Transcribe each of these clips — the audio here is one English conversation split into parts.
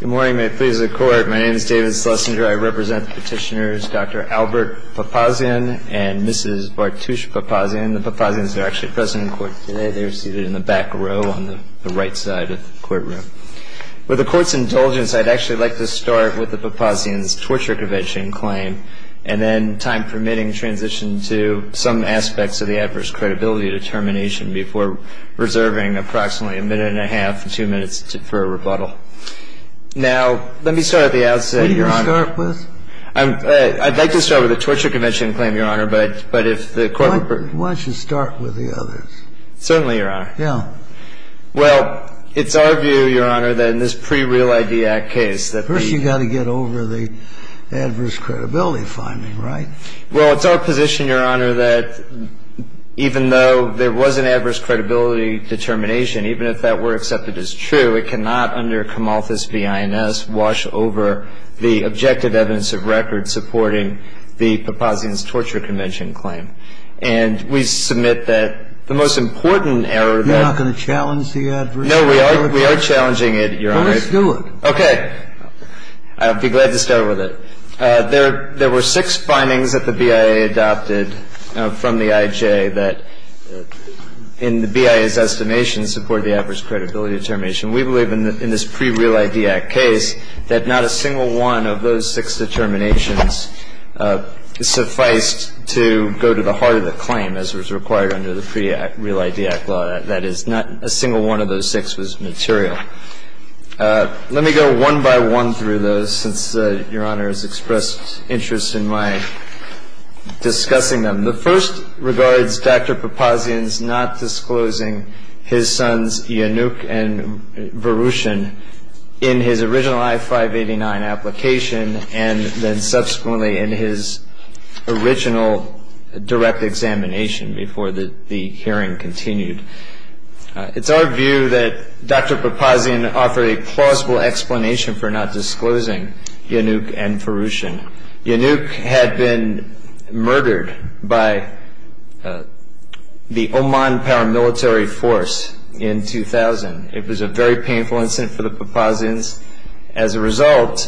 Good morning, may it please the court. My name is David Schlesinger. I represent the petitioners Dr. Albert Papazyan and Mrs. Bartusch Papazyan. The Papazyans are actually present in court today. They're seated in the back row on the right side of the courtroom. With the court's indulgence, I'd actually like to start with the Papazyan's torture conviction claim, and then, time permitting, transition to some aspects of the adverse credibility determination before reserving approximately a minute and a half to two minutes for a rebuttal. Now, let me start at the outset, Your Honor. What are you going to start with? I'd like to start with the torture conviction claim, Your Honor, but if the court would permit. Why don't you start with the others? Certainly, Your Honor. Yeah. Well, it's our view, Your Honor, that in this pre-Real Idea Act case that the First, you've got to get over the adverse credibility finding, right? Well, it's our position, Your Honor, that even though there was an adverse credibility determination, even if that were accepted as true, it cannot, under Comalthus v. INS, wash over the objective evidence of record supporting the Papazyan's torture conviction claim. And we submit that the most important error that You're not going to challenge the adverse credibility? No, we are. We are challenging it, Your Honor. Well, let's do it. Okay. I'll be glad to start with it. There were six findings that the BIA adopted from the IJ that, in the BIA's estimation, support the adverse credibility determination. We believe in this pre-Real Idea Act case that not a single one of those six determinations sufficed to go to the heart of the claim as was required under the pre-Real Idea Act law. That is, not a single one of those six was material. Let me go one by one through those, since Your Honor has expressed interest in my discussing them. The first regards Dr. Papazyan's not disclosing his sons, Iannouk and Verouchin, in his original I-589 application and then subsequently in his original direct examination before the hearing continued. It's our view that Dr. Papazyan offered a plausible explanation for not disclosing Iannouk and Verouchin. Iannouk had been murdered by the Oman paramilitary force in 2000. It was a very painful incident for the Papazyans. As a result,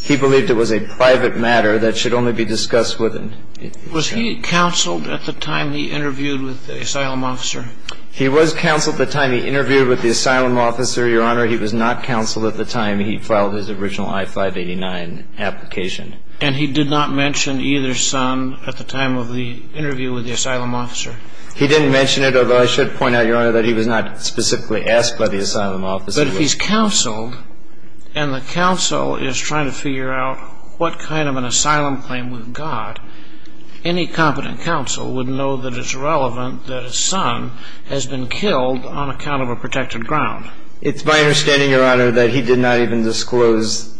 he believed it was a private matter that should only be discussed with him. Was he counseled at the time he interviewed with the asylum officer? He was counseled at the time he interviewed with the asylum officer, Your Honor. He was not counseled at the time he filed his original I-589 application. And he did not mention either son at the time of the interview with the asylum officer? He didn't mention it, although I should point out, Your Honor, that he was not specifically asked by the asylum officer. But if he's counseled, and the counsel is trying to figure out what kind of an asylum claim we've got, any competent counsel would know that it's relevant that a son has been killed on account of a protected ground. It's my understanding, Your Honor, that he did not even disclose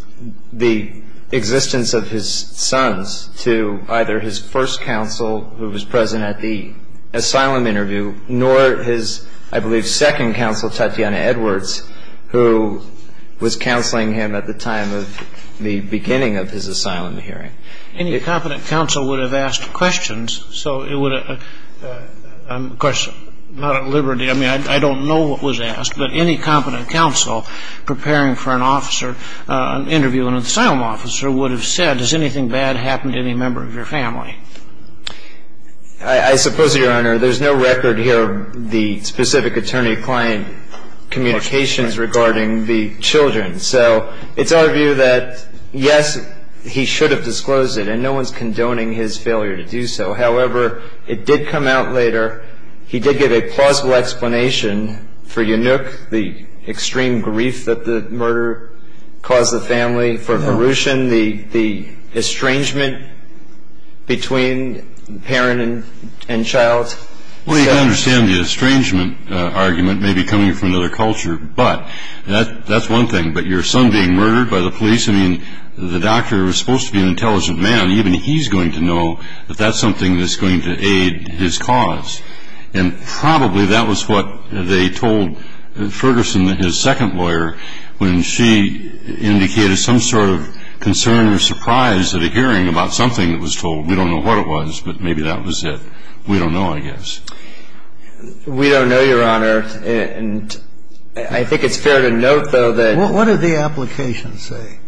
the existence of his sons to either his first counsel, who was present at the asylum interview, nor his, I believe, second counsel, Tatiana Edwards, who was counseling him at the time of the asylum hearing. Any competent counsel would have asked questions. So it would have – of course, not at liberty. I mean, I don't know what was asked. But any competent counsel preparing for an officer, an interview with an asylum officer, would have said, has anything bad happened to any member of your family? I suppose, Your Honor, there's no record here of the specific attorney-client communications regarding the children. So it's our view that, yes, he should have disclosed it. And no one's condoning his failure to do so. However, it did come out later, he did give a plausible explanation for Yanuk, the extreme grief that the murder caused the family, for Hrushin, the estrangement between parent and child. Well, you can understand the estrangement argument may be coming from another culture, but that's one thing. But your son being murdered by the police, I mean, the doctor was supposed to be an intelligent man. Even he's going to know that that's something that's going to aid his cause. And probably that was what they told Ferguson, his second lawyer, when she indicated some sort of concern or surprise at a hearing about something that was told. We don't know what it was, but maybe that was it. We don't know, I guess. We don't know, Your Honor, and I think it's fair to note, though, that What did the application say?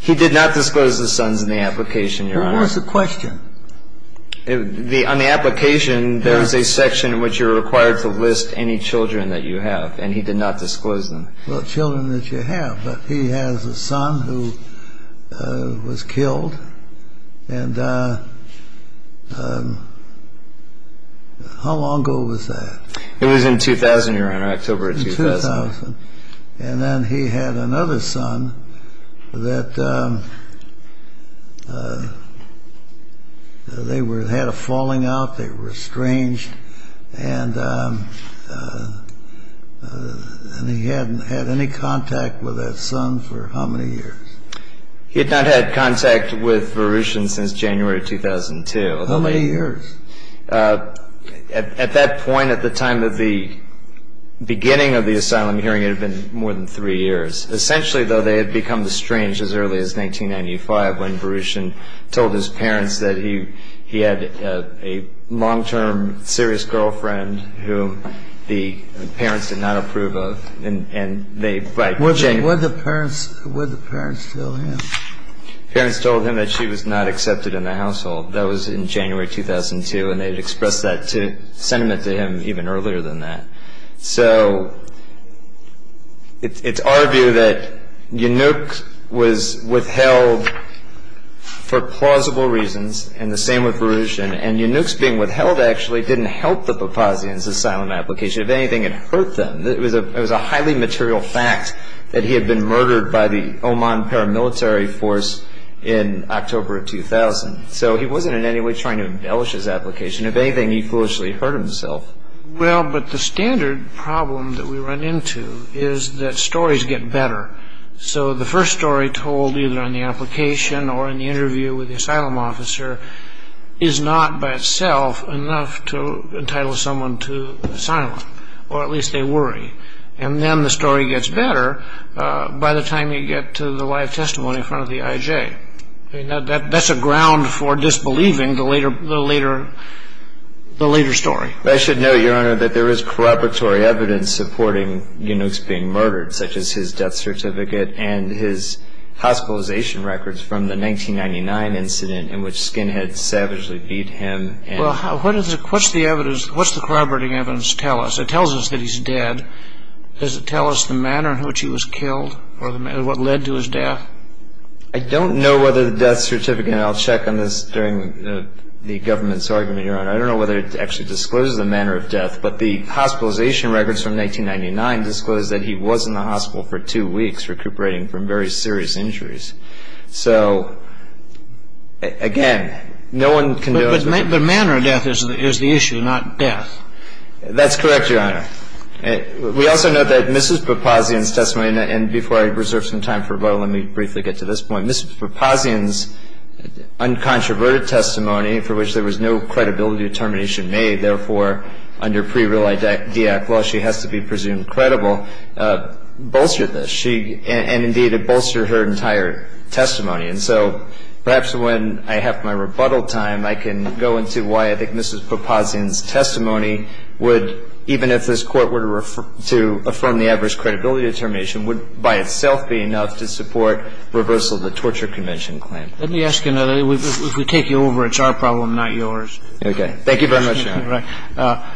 He did not disclose the sons in the application, Your Honor. What was the question? On the application, there was a section in which you were required to list any children that you have, and he did not disclose them. Well, children that you have, but he has a son who was killed. And how long ago was that? It was in 2000, Your Honor, October of 2000. 2000. And then he had another son that they had a falling out, they were estranged, and he hadn't had any contact with that son for how many years? He had not had contact with Verushin since January of 2002. How many years? At that point, at the time of the beginning of the asylum hearing, it had been more than three years. Essentially, though, they had become estranged as early as 1995, when long-term serious girlfriend whom the parents did not approve of, and they Would the parents tell him? Parents told him that she was not accepted in the household. That was in January 2002, and they had expressed that sentiment to him even earlier than that. So it's our view that Yanuk was withheld for plausible reasons, and the same with Verushin, and Yanuk's being withheld, actually, didn't help the Papazian's asylum application. If anything, it hurt them. It was a highly material fact that he had been murdered by the Oman paramilitary force in October of 2000. So he wasn't in any way trying to embellish his application. If anything, he foolishly hurt himself. Well, but the standard problem that we run into is that stories get better. So the first story told either on the application or in the interview with the asylum officer is not, by itself, enough to entitle someone to asylum, or at least they worry. And then the story gets better by the time you get to the live testimony in front of the IJ. That's a ground for disbelieving the later story. I should note, Your Honor, that there is corroboratory evidence supporting Yanuk's being murdered, such as his death certificate and his hospitalization records from the 1999 incident in which Skinhead savagely beat him. Well, what's the evidence, what's the corroborating evidence tell us? It tells us that he's dead. Does it tell us the manner in which he was killed or what led to his death? I don't know whether the death certificate, and I'll check on this during the government's argument, Your Honor. I don't know whether it actually discloses the manner of death, but the hospitalization records from 1999 disclose that he was in the hospital for two weeks. So, again, no one can know. But the manner of death is the issue, not death. That's correct, Your Honor. We also note that Mrs. Papazian's testimony, and before I reserve some time for rebuttal, let me briefly get to this point. Mrs. Papazian's uncontroverted testimony, for which there was no credibility determination made, therefore, under pre-real IDAC law, she has to be presumed credible, bolstered this. And, indeed, it bolstered her entire testimony. And so perhaps when I have my rebuttal time, I can go into why I think Mrs. Papazian's testimony would, even if this Court were to affirm the adverse credibility determination, would by itself be enough to support reversal of the torture convention claim. Let me ask you another. If we take you over, it's our problem, not yours. Okay. Thank you very much, Your Honor.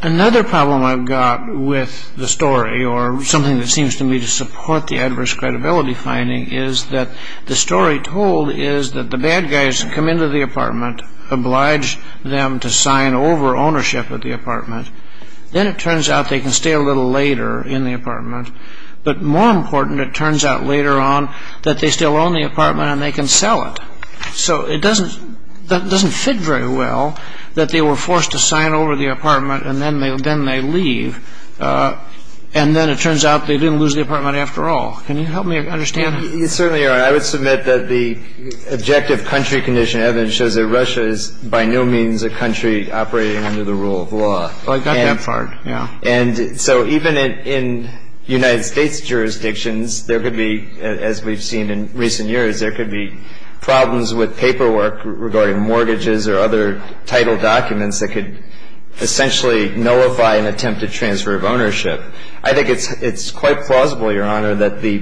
Another problem I've got with the story, or something that seems to me to support the adverse credibility finding, is that the story told is that the bad guys come into the apartment, oblige them to sign over ownership of the apartment. Then it turns out they can stay a little later in the apartment. But more important, it turns out later on that they still own the apartment and they can sell it. So it doesn't fit very well that they were forced to sign over the apartment and then they leave. And then it turns out they didn't lose the apartment after all. Can you help me understand? You certainly are. I would submit that the objective country condition evidence shows that Russia is by no means a country operating under the rule of law. Well, I got that part, yeah. And so even in United States jurisdictions, there could be, as we've seen in the past, there could be problems with paperwork regarding mortgages or other title documents that could essentially nullify an attempted transfer of ownership. I think it's quite plausible, Your Honor, that the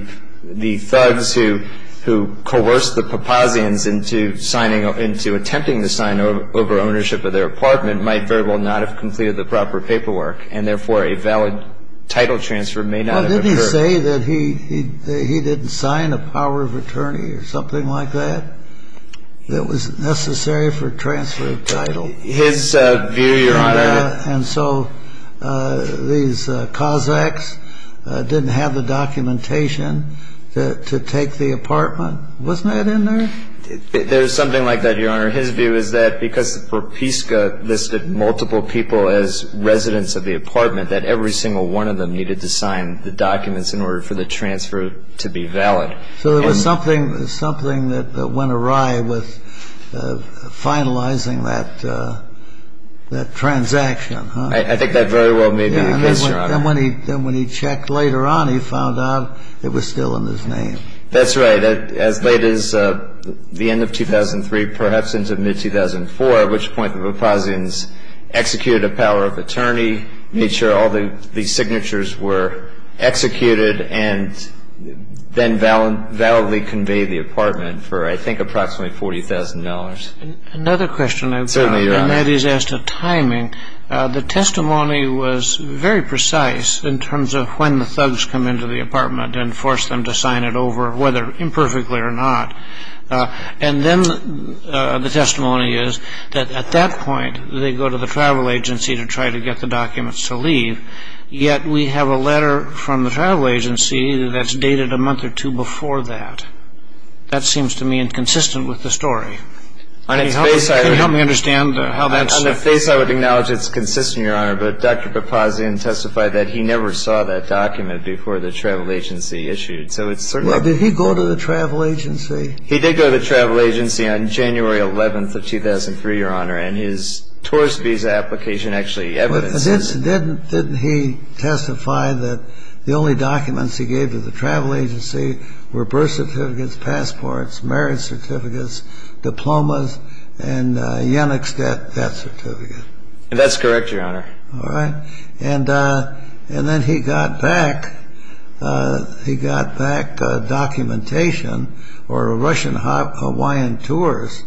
thugs who coerced the Papazians into attempting to sign over ownership of their apartment might very well not have completed the proper paperwork. And therefore, a valid title transfer may not have occurred. Did he say that he didn't sign a power of attorney or something like that, that was necessary for transfer of title? His view, Your Honor. And so these Kazakhs didn't have the documentation to take the apartment. Wasn't that in there? There's something like that, Your Honor. His view is that because Propiska listed multiple people as residents of the transfer to be valid. So there was something that went awry with finalizing that transaction, huh? I think that very well may be the case, Your Honor. Then when he checked later on, he found out it was still in his name. That's right. As late as the end of 2003, perhaps into mid-2004, at which point the Papazians executed a power of attorney, made sure all the signatures were executed, and then validly conveyed the apartment for, I think, approximately $40,000. Another question I've got. Certainly, Your Honor. And that is as to timing. The testimony was very precise in terms of when the thugs come into the apartment and force them to sign it over, whether imperfectly or not. And then the testimony is that at that point they go to the travel agency to try to get the documents to leave. Yet we have a letter from the travel agency that's dated a month or two before that. That seems to me inconsistent with the story. Can you help me understand how that's? On the face I would acknowledge it's consistent, Your Honor, but Dr. Papazian testified that he never saw that document before the travel agency issued. So it's certainly. Well, did he go to the travel agency? He did go to the travel agency on January 11th of 2003, Your Honor, and his tourist visa application actually evidenced that. But didn't he testify that the only documents he gave to the travel agency were birth certificates, passports, marriage certificates, diplomas, and Yennex debt certificate? That's correct, Your Honor. All right. And then he got back documentation or Russian-Hawaiian tours.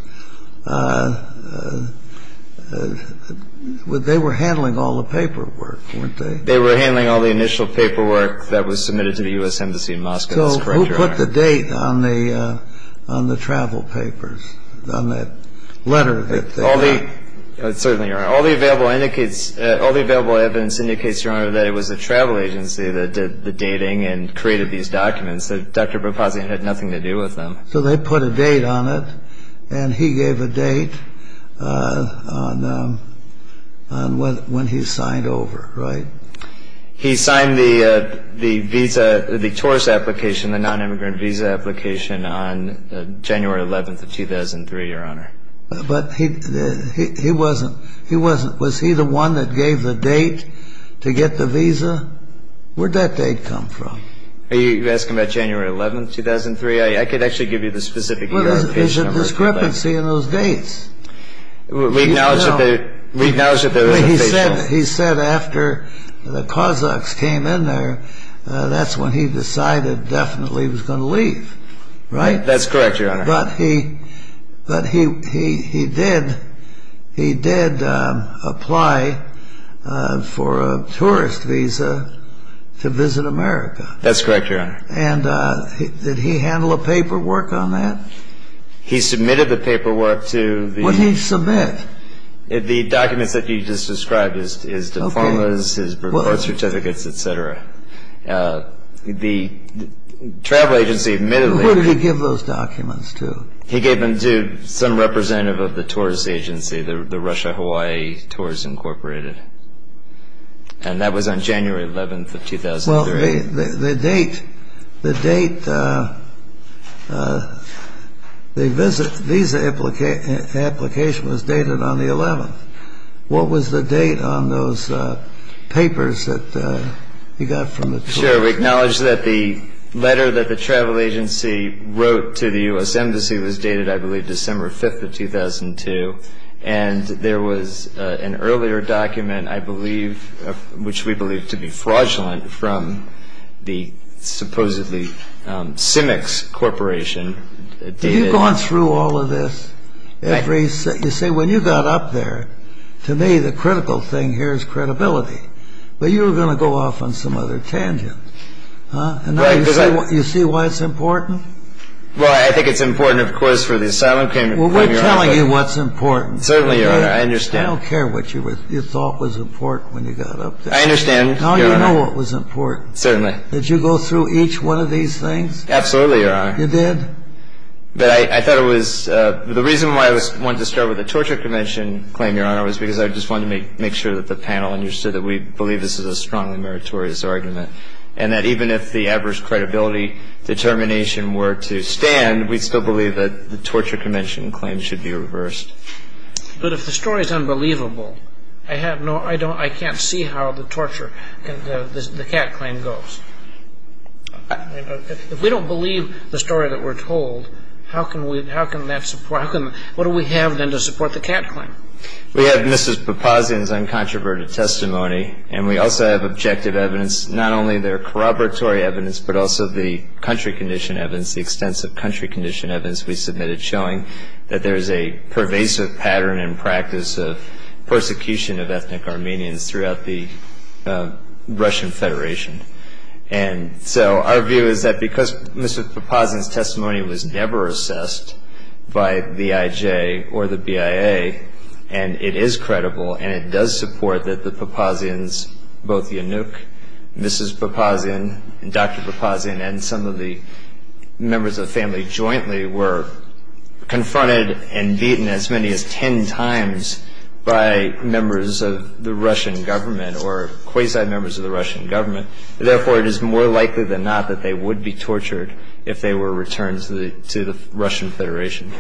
They were handling all the paperwork, weren't they? They were handling all the initial paperwork that was submitted to the U.S. Embassy in Moscow. That's correct, Your Honor. So who put the date on the travel papers, on that letter that they got? Certainly, Your Honor. All the available evidence indicates, Your Honor, that it was the travel agency that did the dating and created these documents. Dr. Papazian had nothing to do with them. So they put a date on it, and he gave a date on when he signed over, right? He signed the visa, the tourist application, the nonimmigrant visa application, on January 11th of 2003, Your Honor. But he wasn't, was he the one that gave the date to get the visa? Where'd that date come from? Are you asking about January 11th, 2003? I could actually give you the specific year and page number. There's a discrepancy in those dates. We acknowledge that there was a page difference. He said after the Cossacks came in there, that's when he decided definitely he was going to leave, right? That's correct, Your Honor. But he did apply for a tourist visa to visit America. That's correct, Your Honor. And did he handle a paperwork on that? He submitted the paperwork to the... What did he submit? The documents that you just described, his diplomas, his report certificates, et cetera. The travel agency admittedly... He gave those documents to... He gave them to some representative of the tourist agency, the Russia Hawaii Tourism Incorporated. And that was on January 11th of 2003. Well, the date, the date, the visa application was dated on the 11th. What was the date on those papers that he got from the tour? Mr. Chair, we acknowledge that the letter that the travel agency wrote to the U.S. Embassy was dated, I believe, December 5th of 2002. And there was an earlier document, I believe, which we believe to be fraudulent from the supposedly Cimex Corporation. Have you gone through all of this? You see, when you got up there, to me the critical thing here is credibility. But you were going to go off on some other tangent. And now you see why it's important? Well, I think it's important, of course, for the asylum claim. Well, we're telling you what's important. Certainly, Your Honor, I understand. I don't care what you thought was important when you got up there. I understand, Your Honor. Now you know what was important. Certainly. Did you go through each one of these things? Absolutely, Your Honor. You did? But I thought it was... The reason why I wanted to start with the Torture Convention claim, Your Honor, was because I just wanted to make sure that the panel understood that we believe this is a strongly meritorious argument, and that even if the adverse credibility determination were to stand, we'd still believe that the Torture Convention claim should be reversed. But if the story is unbelievable, I can't see how the torture, the cat claim, goes. If we don't believe the story that we're told, how can we, how can that support, what do we have then to support the cat claim? We have Mrs. Papazian's uncontroverted testimony, and we also have objective evidence, not only their corroboratory evidence, but also the country condition evidence, the extensive country condition evidence we submitted showing that there is a pervasive pattern and practice of persecution of ethnic Armenians throughout the Russian Federation. And so our view is that because Mrs. Papazian's testimony was never assessed by BIJ or the BIA, and it is credible and it does support that the Papazians, both Yanuk, Mrs. Papazian, and Dr. Papazian, and some of the members of the family jointly, were confronted and beaten as many as ten times by members of the Russian government or quasi-members of the Russian government. Therefore, it is more likely than not that they would be tortured if they were returned to the Russian Federation.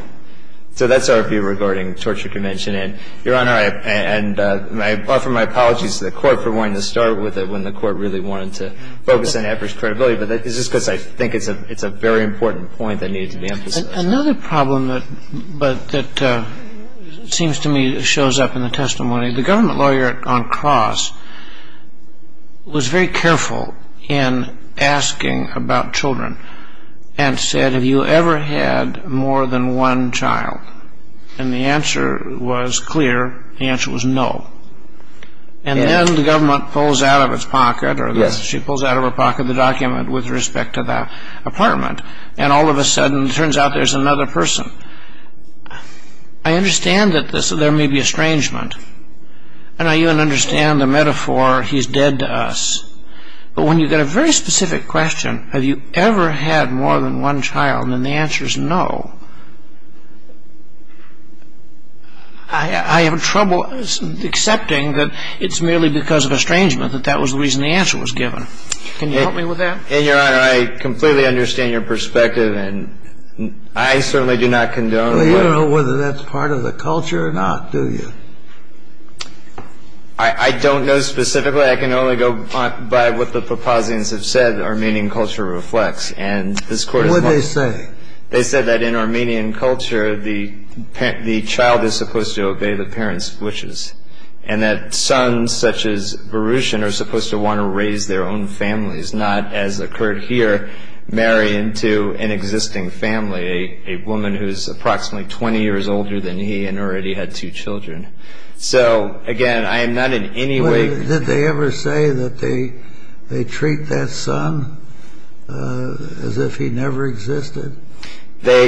So that's our view regarding the Torture Convention. And, Your Honor, and I offer my apologies to the Court for wanting to start with it when the Court really wanted to focus on average credibility, but this is because I think it's a very important point that needed to be emphasized. Another problem that seems to me shows up in the testimony, the government lawyer on cross was very careful in asking about children and said, have you ever had more than one child? And the answer was clear. The answer was no. And then the government pulls out of its pocket, or she pulls out of her pocket, the document with respect to the apartment, and all of a sudden it turns out there's another person. I understand that there may be estrangement, and I even understand the metaphor, he's dead to us. But when you get a very specific question, have you ever had more than one child, and the answer is no, I have trouble accepting that it's merely because of estrangement, that that was the reason the answer was given. Can you help me with that? And, Your Honor, I completely understand your perspective, and I certainly do not condone. Well, you don't know whether that's part of the culture or not, do you? I don't know specifically. I can only go by what the propositions have said, Armenian culture reflects. And this Court has not. What did they say? They said that in Armenian culture the child is supposed to obey the parents' wishes, and that sons such as Baruchin are supposed to want to raise their own families, not, as occurred here, marry into an existing family, a woman who is approximately 20 years older than he and already had two children. So, again, I am not in any way... They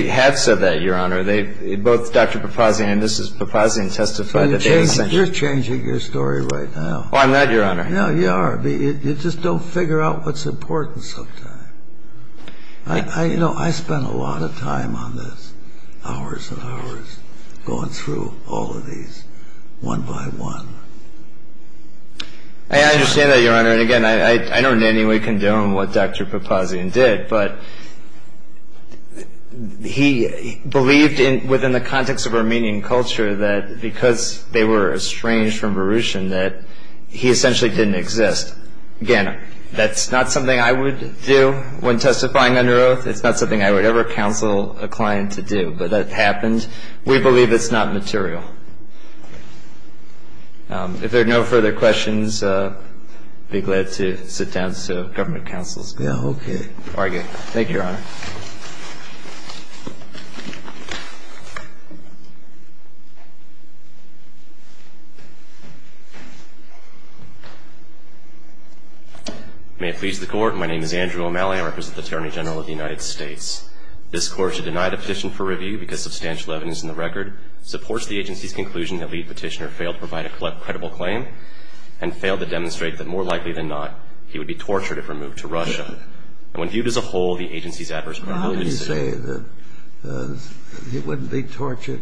have said that, Your Honor. Both Dr. Papazian and Mrs. Papazian testified. You're changing your story right now. Oh, I'm not, Your Honor. No, you are. You just don't figure out what's important sometimes. You know, I spent a lot of time on this, hours and hours, going through all of these one by one. I understand that, Your Honor. And, again, I don't in any way condone what Dr. Papazian did, but he believed within the context of Armenian culture that because they were estranged from Baruchin that he essentially didn't exist. Again, that's not something I would do when testifying under oath. It's not something I would ever counsel a client to do. But that happened. We believe it's not material. If there are no further questions, I'd be glad to sit down so government counsels can argue. Thank you, Your Honor. May it please the Court. My name is Andrew O'Malley. I represent the Attorney General of the United States. This Court has denied a petition for review because substantial evidence in the record supports the agency's conclusion the lead petitioner failed to provide a credible claim and failed to demonstrate that, more likely than not, he would be tortured if removed to Russia. And when viewed as a whole, the agency's adverse credibility… How can you say that he wouldn't be tortured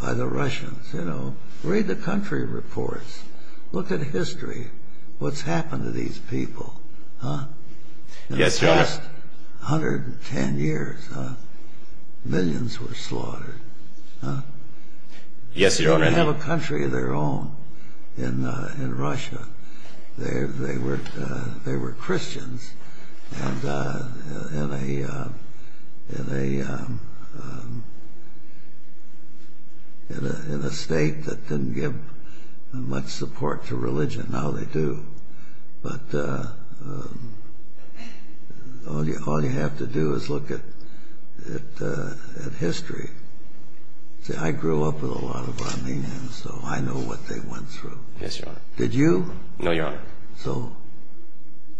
by the Russians? You know, read the country reports. Look at history. What's happened to these people? Yes, Your Honor. In the past 110 years, millions were slaughtered. Yes, Your Honor. They didn't have a country of their own in Russia. They were Christians in a state that didn't give much support to religion. Now they do. But all you have to do is look at history. See, I grew up with a lot of Armenians, so I know what they went through. Yes, Your Honor. Did you? No, Your Honor. So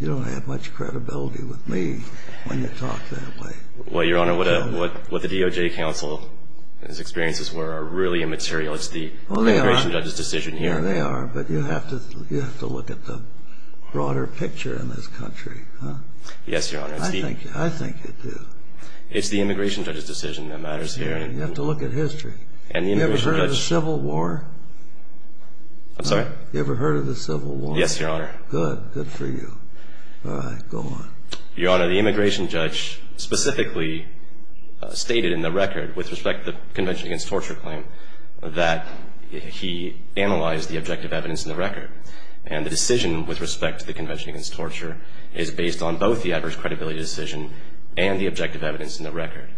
you don't have much credibility with me when you talk that way. Well, Your Honor, what the DOJ counsel's experiences were are really immaterial. It's the immigration judge's decision here. Sure they are, but you have to look at the broader picture in this country. Yes, Your Honor. I think you do. It's the immigration judge's decision that matters here. You have to look at history. You ever heard of the Civil War? I'm sorry? You ever heard of the Civil War? Yes, Your Honor. Good, good for you. All right, go on. Your Honor, the immigration judge specifically stated in the record, with respect to the Convention Against Torture claim, that he analyzed the objective evidence in the record. And the decision with respect to the Convention Against Torture is based on both the adverse credibility decision and the objective evidence in the record.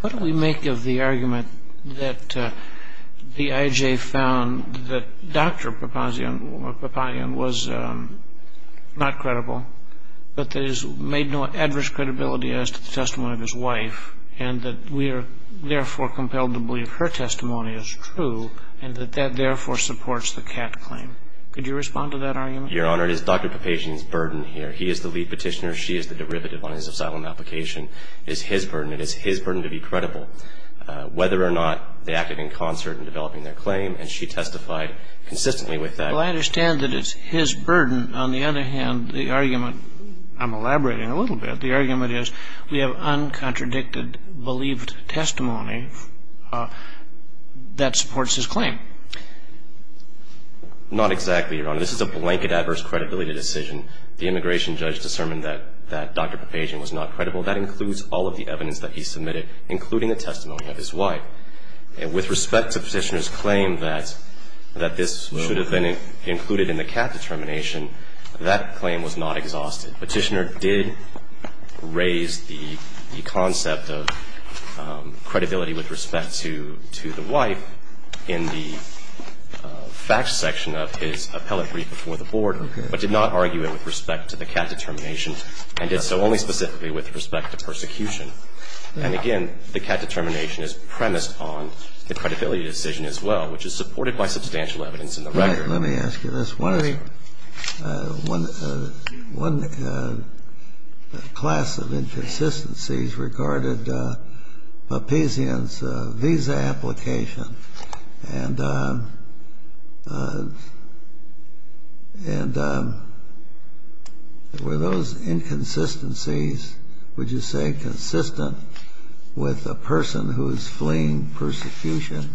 What do we make of the argument that the IJ found that Dr. Papazian was not credible, but that he's made no adverse credibility as to the testimony of his wife, and that we are, therefore, compelled to believe her testimony is true, and that that, therefore, supports the Catt claim? Could you respond to that argument? Your Honor, it is Dr. Papazian's burden here. He is the lead petitioner. She is the derivative on his asylum application. It is his burden. It is his burden to be credible, whether or not they acted in concert in developing their claim, and she testified consistently with that. Well, I understand that it's his burden. On the other hand, the argument, I'm elaborating a little bit, but the argument is we have uncontradicted believed testimony that supports his claim. Not exactly, Your Honor. This is a blanket adverse credibility decision. The immigration judge discerned that Dr. Papazian was not credible. That includes all of the evidence that he submitted, including the testimony of his wife. With respect to Petitioner's claim that this should have been included in the Catt determination, that claim was not exhausted. Petitioner did raise the concept of credibility with respect to the wife in the facts section of his appellate brief before the Board, but did not argue it with respect to the Catt determination, and did so only specifically with respect to persecution. And again, the Catt determination is premised on the credibility decision as well, which is supported by substantial evidence in the record. Let me ask you this. One class of inconsistencies regarded Papazian's visa application. And were those inconsistencies, would you say, consistent with a person who is fleeing persecution?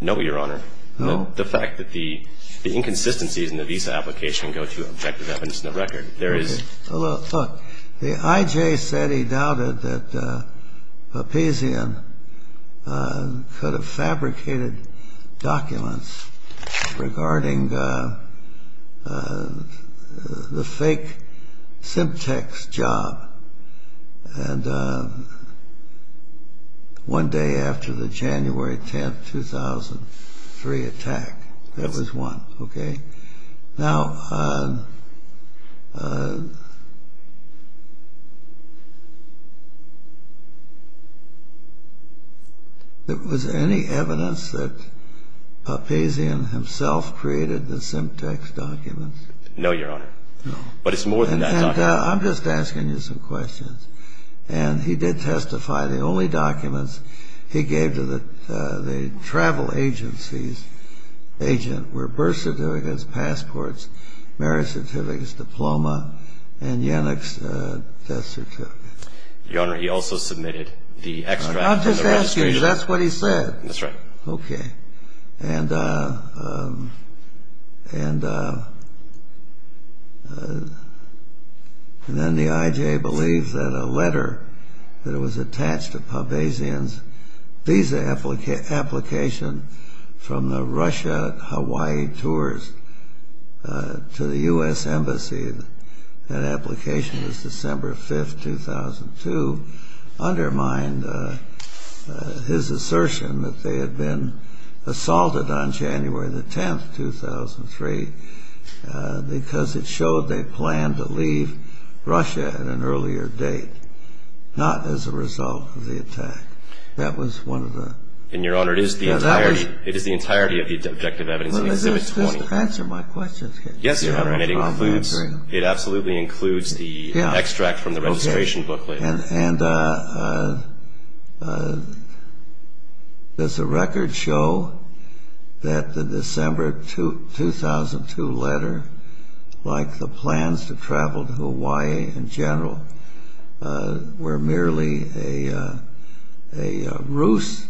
No, Your Honor. No? The fact that the inconsistencies in the visa application go to objective evidence in the record. Okay. Well, look. The I.J. said he doubted that Papazian could have fabricated documents regarding the fake Simtex job one day after the January 10, 2003 attack. That was one. Okay? Now, was there any evidence that Papazian himself created the Simtex documents? No, Your Honor. No. But it's more than that document. And I'm just asking you some questions. And he did testify the only documents he gave to the travel agency's agent were birth certificates, passports, marriage certificates, diploma, and Yannick's death certificate. Your Honor, he also submitted the extract from the registration. I'm just asking you. That's what he said. That's right. Okay. And then the I.J. believed that a letter that was attached to Papazian's visa application from the Russia-Hawaii tours to the U.S. Embassy, that application was December 5, 2002, undermined his assertion that they had been assaulted on January the 10th, 2003, because it showed they planned to leave Russia at an earlier date, not as a result of the attack. That was one of the... And, Your Honor, it is the entirety of the objective evidence in Exhibit 20. Answer my question. Yes, Your Honor. It absolutely includes the extract from the registration booklet. And does the record show that the December 2002 letter, like the plans to travel to Hawaii in general, were merely a ruse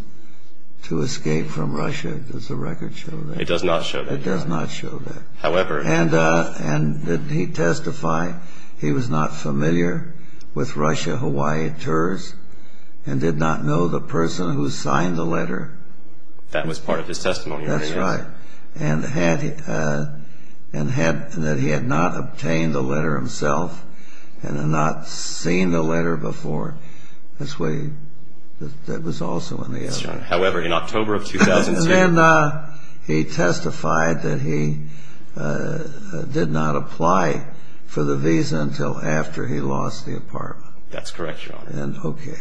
to escape from Russia? Does the record show that? It does not show that, Your Honor. It does not show that. However... And did he testify he was not familiar with Russia-Hawaii tours and did not know the person who signed the letter? That was part of his testimony, Your Honor. That's right. And that he had not obtained the letter himself and had not seen the letter before. That was also in the... However, in October of 2002... And he testified that he did not apply for the visa until after he lost the apartment. That's correct, Your Honor. Okay.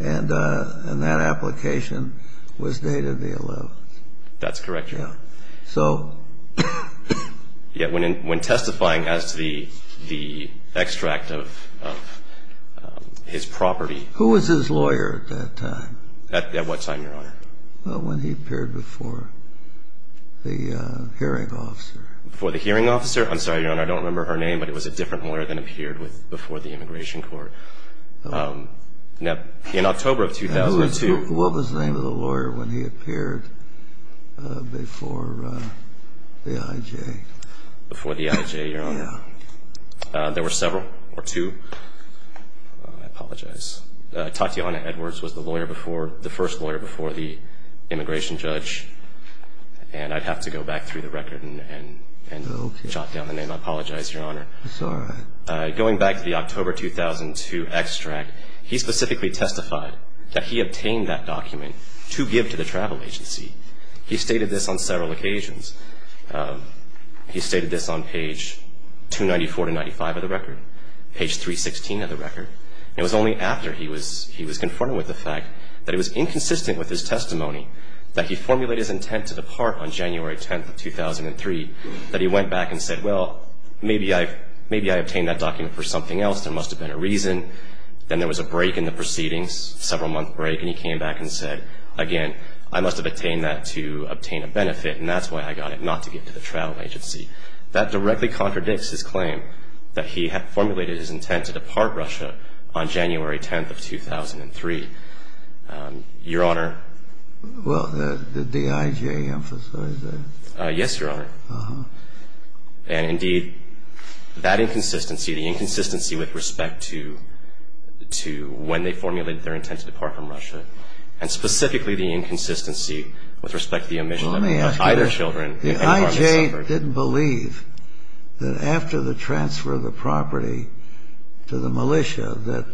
And that application was dated the 11th. That's correct, Your Honor. So... When testifying as to the extract of his property... Who was his lawyer at that time? At what time, Your Honor? When he appeared before the hearing officer. Before the hearing officer? I'm sorry, Your Honor, I don't remember her name, but it was a different lawyer than appeared before the immigration court. In October of 2002... What was the name of the lawyer when he appeared before the IJ? Before the IJ, Your Honor? Yeah. There were several, or two. I apologize. Tatiana Edwards was the first lawyer before the immigration judge. And I'd have to go back through the record and jot down the name. I apologize, Your Honor. That's all right. Going back to the October 2002 extract, he specifically testified that he obtained that document to give to the travel agency. He stated this on several occasions. He stated this on page 294 to 295 of the record, page 316 of the record. It was only after he was confirmed with the fact that it was inconsistent with his testimony that he formulated his intent to depart on January 10th of 2003 that he went back and said, well, maybe I obtained that document for something else. There must have been a reason. Then there was a break in the proceedings, several-month break, and he came back and said, again, I must have obtained that to obtain a benefit, and that's why I got it not to give to the travel agency. That directly contradicts his claim that he had formulated his intent to depart Russia on January 10th of 2003. Your Honor? Well, did the IJ emphasize that? Yes, Your Honor. Uh-huh. And, indeed, that inconsistency, the inconsistency with respect to when they formulated their intent to depart from Russia, and specifically the inconsistency with respect to the omission of either children. The IJ didn't believe that after the transfer of the property to the militia that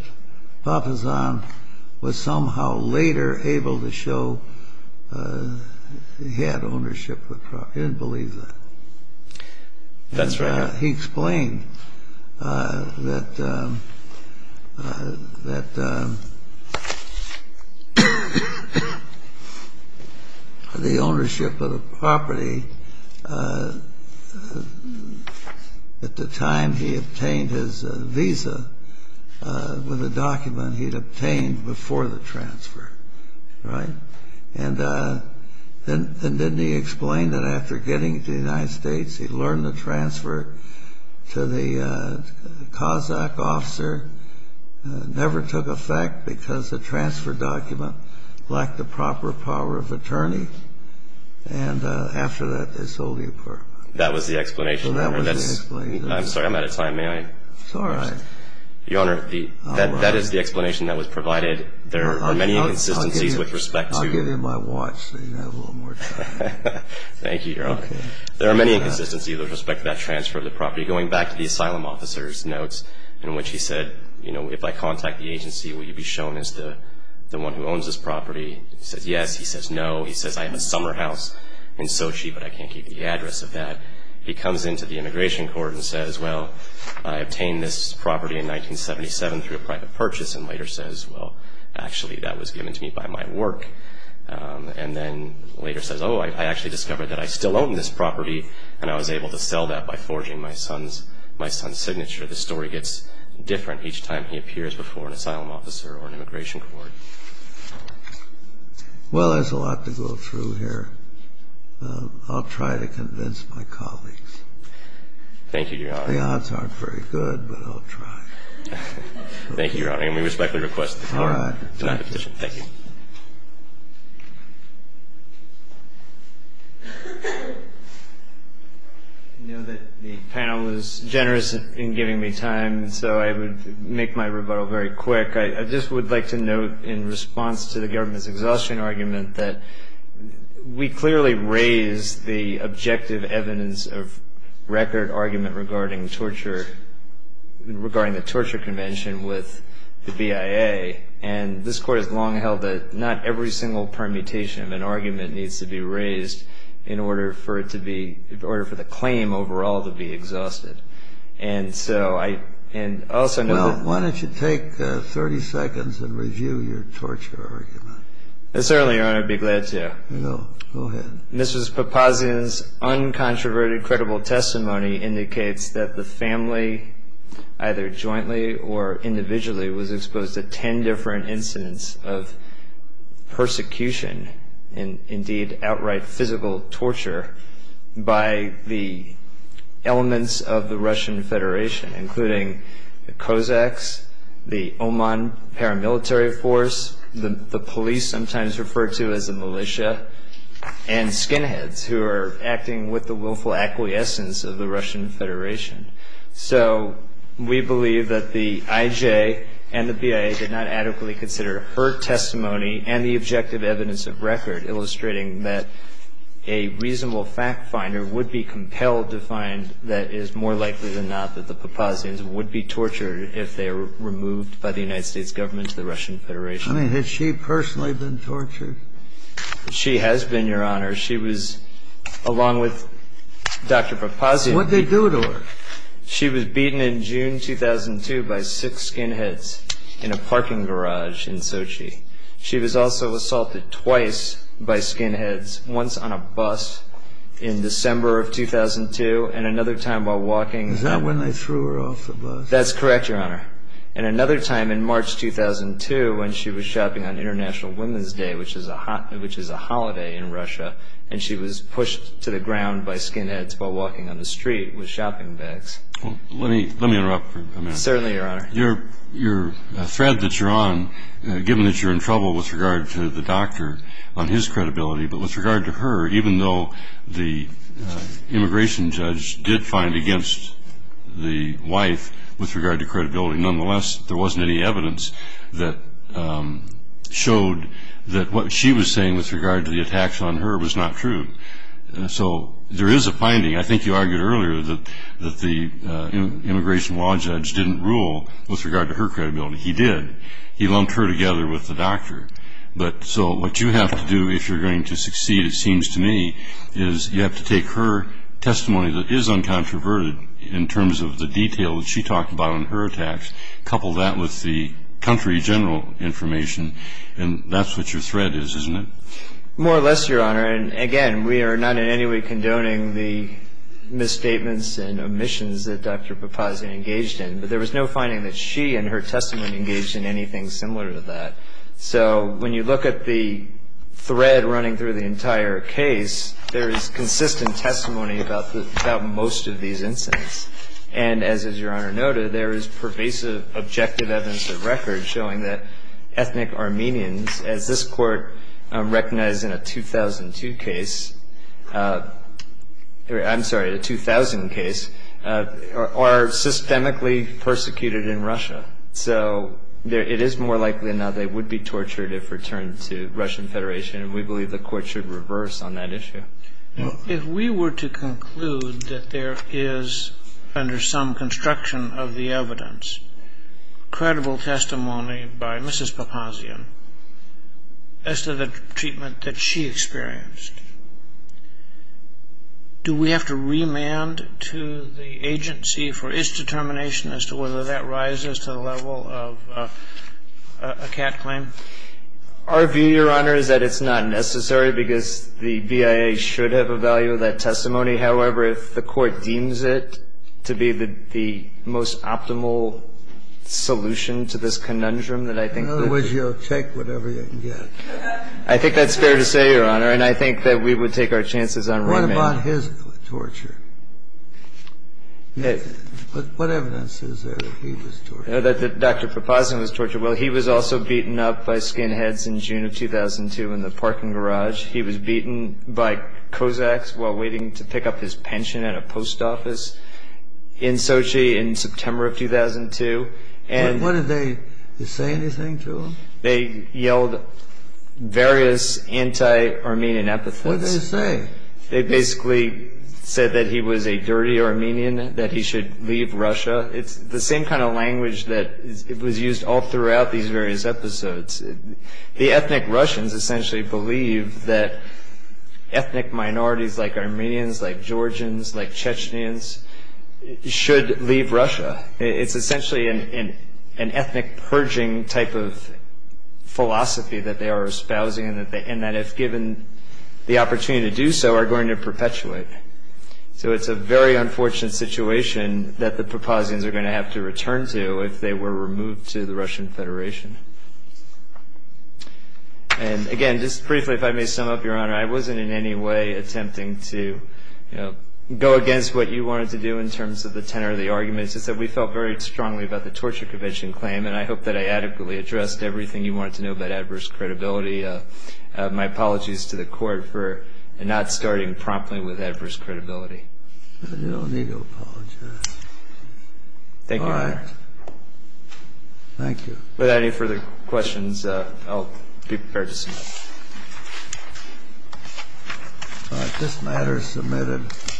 Papasan was somehow later able to show he had ownership of the property. He didn't believe that. That's right, Your Honor. He explained that the ownership of the property at the time he obtained his visa was a document he'd obtained before the transfer, right? And then he explained that after getting to the United States, he learned the transfer to the Kazakh officer never took effect because the transfer document lacked the proper power of attorney. And after that, they sold the apartment. That was the explanation. Well, that was the explanation. I'm sorry, I'm out of time. May I? It's all right. Your Honor, that is the explanation that was provided. There are many inconsistencies with respect to I'll give you my watch so you have a little more time. Thank you, Your Honor. There are many inconsistencies with respect to that transfer of the property. Going back to the asylum officer's notes in which he said, you know, if I contact the agency, will you be shown as the one who owns this property? He says, yes. He says, no. He says, I have a summer house in Sochi, but I can't give you the address of that. He comes into the immigration court and says, well, I obtained this property in 1977 through a private purchase, and later says, well, actually that was given to me by my work, and then later says, oh, I actually discovered that I still own this property and I was able to sell that by forging my son's signature. The story gets different each time he appears before an asylum officer or an immigration court. Well, there's a lot to go through here. I'll try to convince my colleagues. Thank you, Your Honor. The odds aren't very good, but I'll try. Thank you, Your Honor. And we respectfully request that you sign the petition. Thank you. I know that the panel is generous in giving me time, so I would make my rebuttal very quick. I just would like to note in response to the government's exhaustion argument that we clearly raise the objective evidence of record argument regarding torture regarding the Torture Convention with the BIA, and this Court has long held that not every single permutation of an argument needs to be raised in order for the claim overall to be exhausted. And so I also note that – Well, why don't you take 30 seconds and review your torture argument. Certainly, Your Honor. I'd be glad to. Go ahead. Mrs. Papazian's uncontroverted, credible testimony indicates that the family, either jointly or individually, was exposed to 10 different incidents of persecution and indeed outright physical torture by the elements of the Russian Federation, including the Cossacks, the Oman paramilitary force, the police, sometimes referred to as the militia, and skinheads who are acting with the willful acquiescence of the Russian Federation. So we believe that the IJ and the BIA did not adequately consider her testimony and the objective evidence of record, illustrating that a reasonable fact finder would be compelled to find that it is more likely than not that the Papazians would be tortured if they were removed by the United States government to the Russian Federation. I mean, has she personally been tortured? She has been, Your Honor. She was, along with Dr. Papazian – What did they do to her? She was beaten in June 2002 by six skinheads in a parking garage in Sochi. She was also assaulted twice by skinheads, once on a bus in December of 2002 and another time while walking – Is that when they threw her off the bus? That's correct, Your Honor. And another time in March 2002 when she was shopping on International Women's Day, which is a holiday in Russia, and she was pushed to the ground by skinheads while walking on the street with shopping bags. Let me interrupt for a minute. Certainly, Your Honor. Your thread that you're on, given that you're in trouble with regard to the doctor on his credibility, but with regard to her, even though the immigration judge did find against the wife with regard to credibility, nonetheless there wasn't any evidence that showed that what she was saying with regard to the attacks on her was not true. So there is a finding. I think you argued earlier that the immigration law judge didn't rule with regard to her credibility. He did. He lumped her together with the doctor. So what you have to do if you're going to succeed, it seems to me, is you have to take her testimony that is uncontroverted in terms of the detail that she talked about in her attacks, couple that with the country general information, and that's what your thread is, isn't it? More or less, Your Honor. And again, we are not in any way condoning the misstatements and omissions that Dr. Papazian engaged in. But there was no finding that she in her testimony engaged in anything similar to that. So when you look at the thread running through the entire case, there is consistent testimony about most of these incidents. And as Your Honor noted, there is pervasive objective evidence of record showing that ethnic Armenians, as this Court recognized in a 2002 case, I'm sorry, a 2000 case, are systemically persecuted in Russia. So it is more likely now they would be tortured if returned to Russian Federation, and we believe the Court should reverse on that issue. If we were to conclude that there is, under some construction of the evidence, credible testimony by Mrs. Papazian as to the treatment that she experienced, do we have to remand to the agency for its determination as to whether that rises to the level of a cat claim? Our view, Your Honor, is that it's not necessary because the BIA should have a value of that testimony. However, if the Court deems it to be the most optimal solution to this conundrum, that I think that's... In other words, you'll take whatever you can get. I think that's fair to say, Your Honor, and I think that we would take our chances on remand. What about his torture? What evidence is there that he was tortured? That Dr. Papazian was tortured. Well, he was also beaten up by skinheads in June of 2002 in the parking garage. He was beaten by Kozaks while waiting to pick up his pension at a post office in Sochi in September of 2002. What did they say anything to him? They yelled various anti-Armenian epithets. What did they say? They basically said that he was a dirty Armenian, that he should leave Russia. It's the same kind of language that was used all throughout these various episodes. The ethnic Russians essentially believe that ethnic minorities like Armenians, like Georgians, like Chechens should leave Russia. It's essentially an ethnic purging type of philosophy that they are espousing, and that if given the opportunity to do so, are going to perpetuate. So it's a very unfortunate situation that the Papazians are going to have to return to if they were removed to the Russian Federation. Again, just briefly, if I may sum up, Your Honor, I wasn't in any way attempting to go against what you wanted to do in terms of the tenor of the arguments. It's that we felt very strongly about the torture convention claim, and I hope that I adequately addressed everything you wanted to know about adverse credibility. My apologies to the Court for not starting promptly with adverse credibility. You don't need to apologize. Thank you, Your Honor. All right. Thank you. Without any further questions, I'll be prepared to submit. All right. This matter is submitted.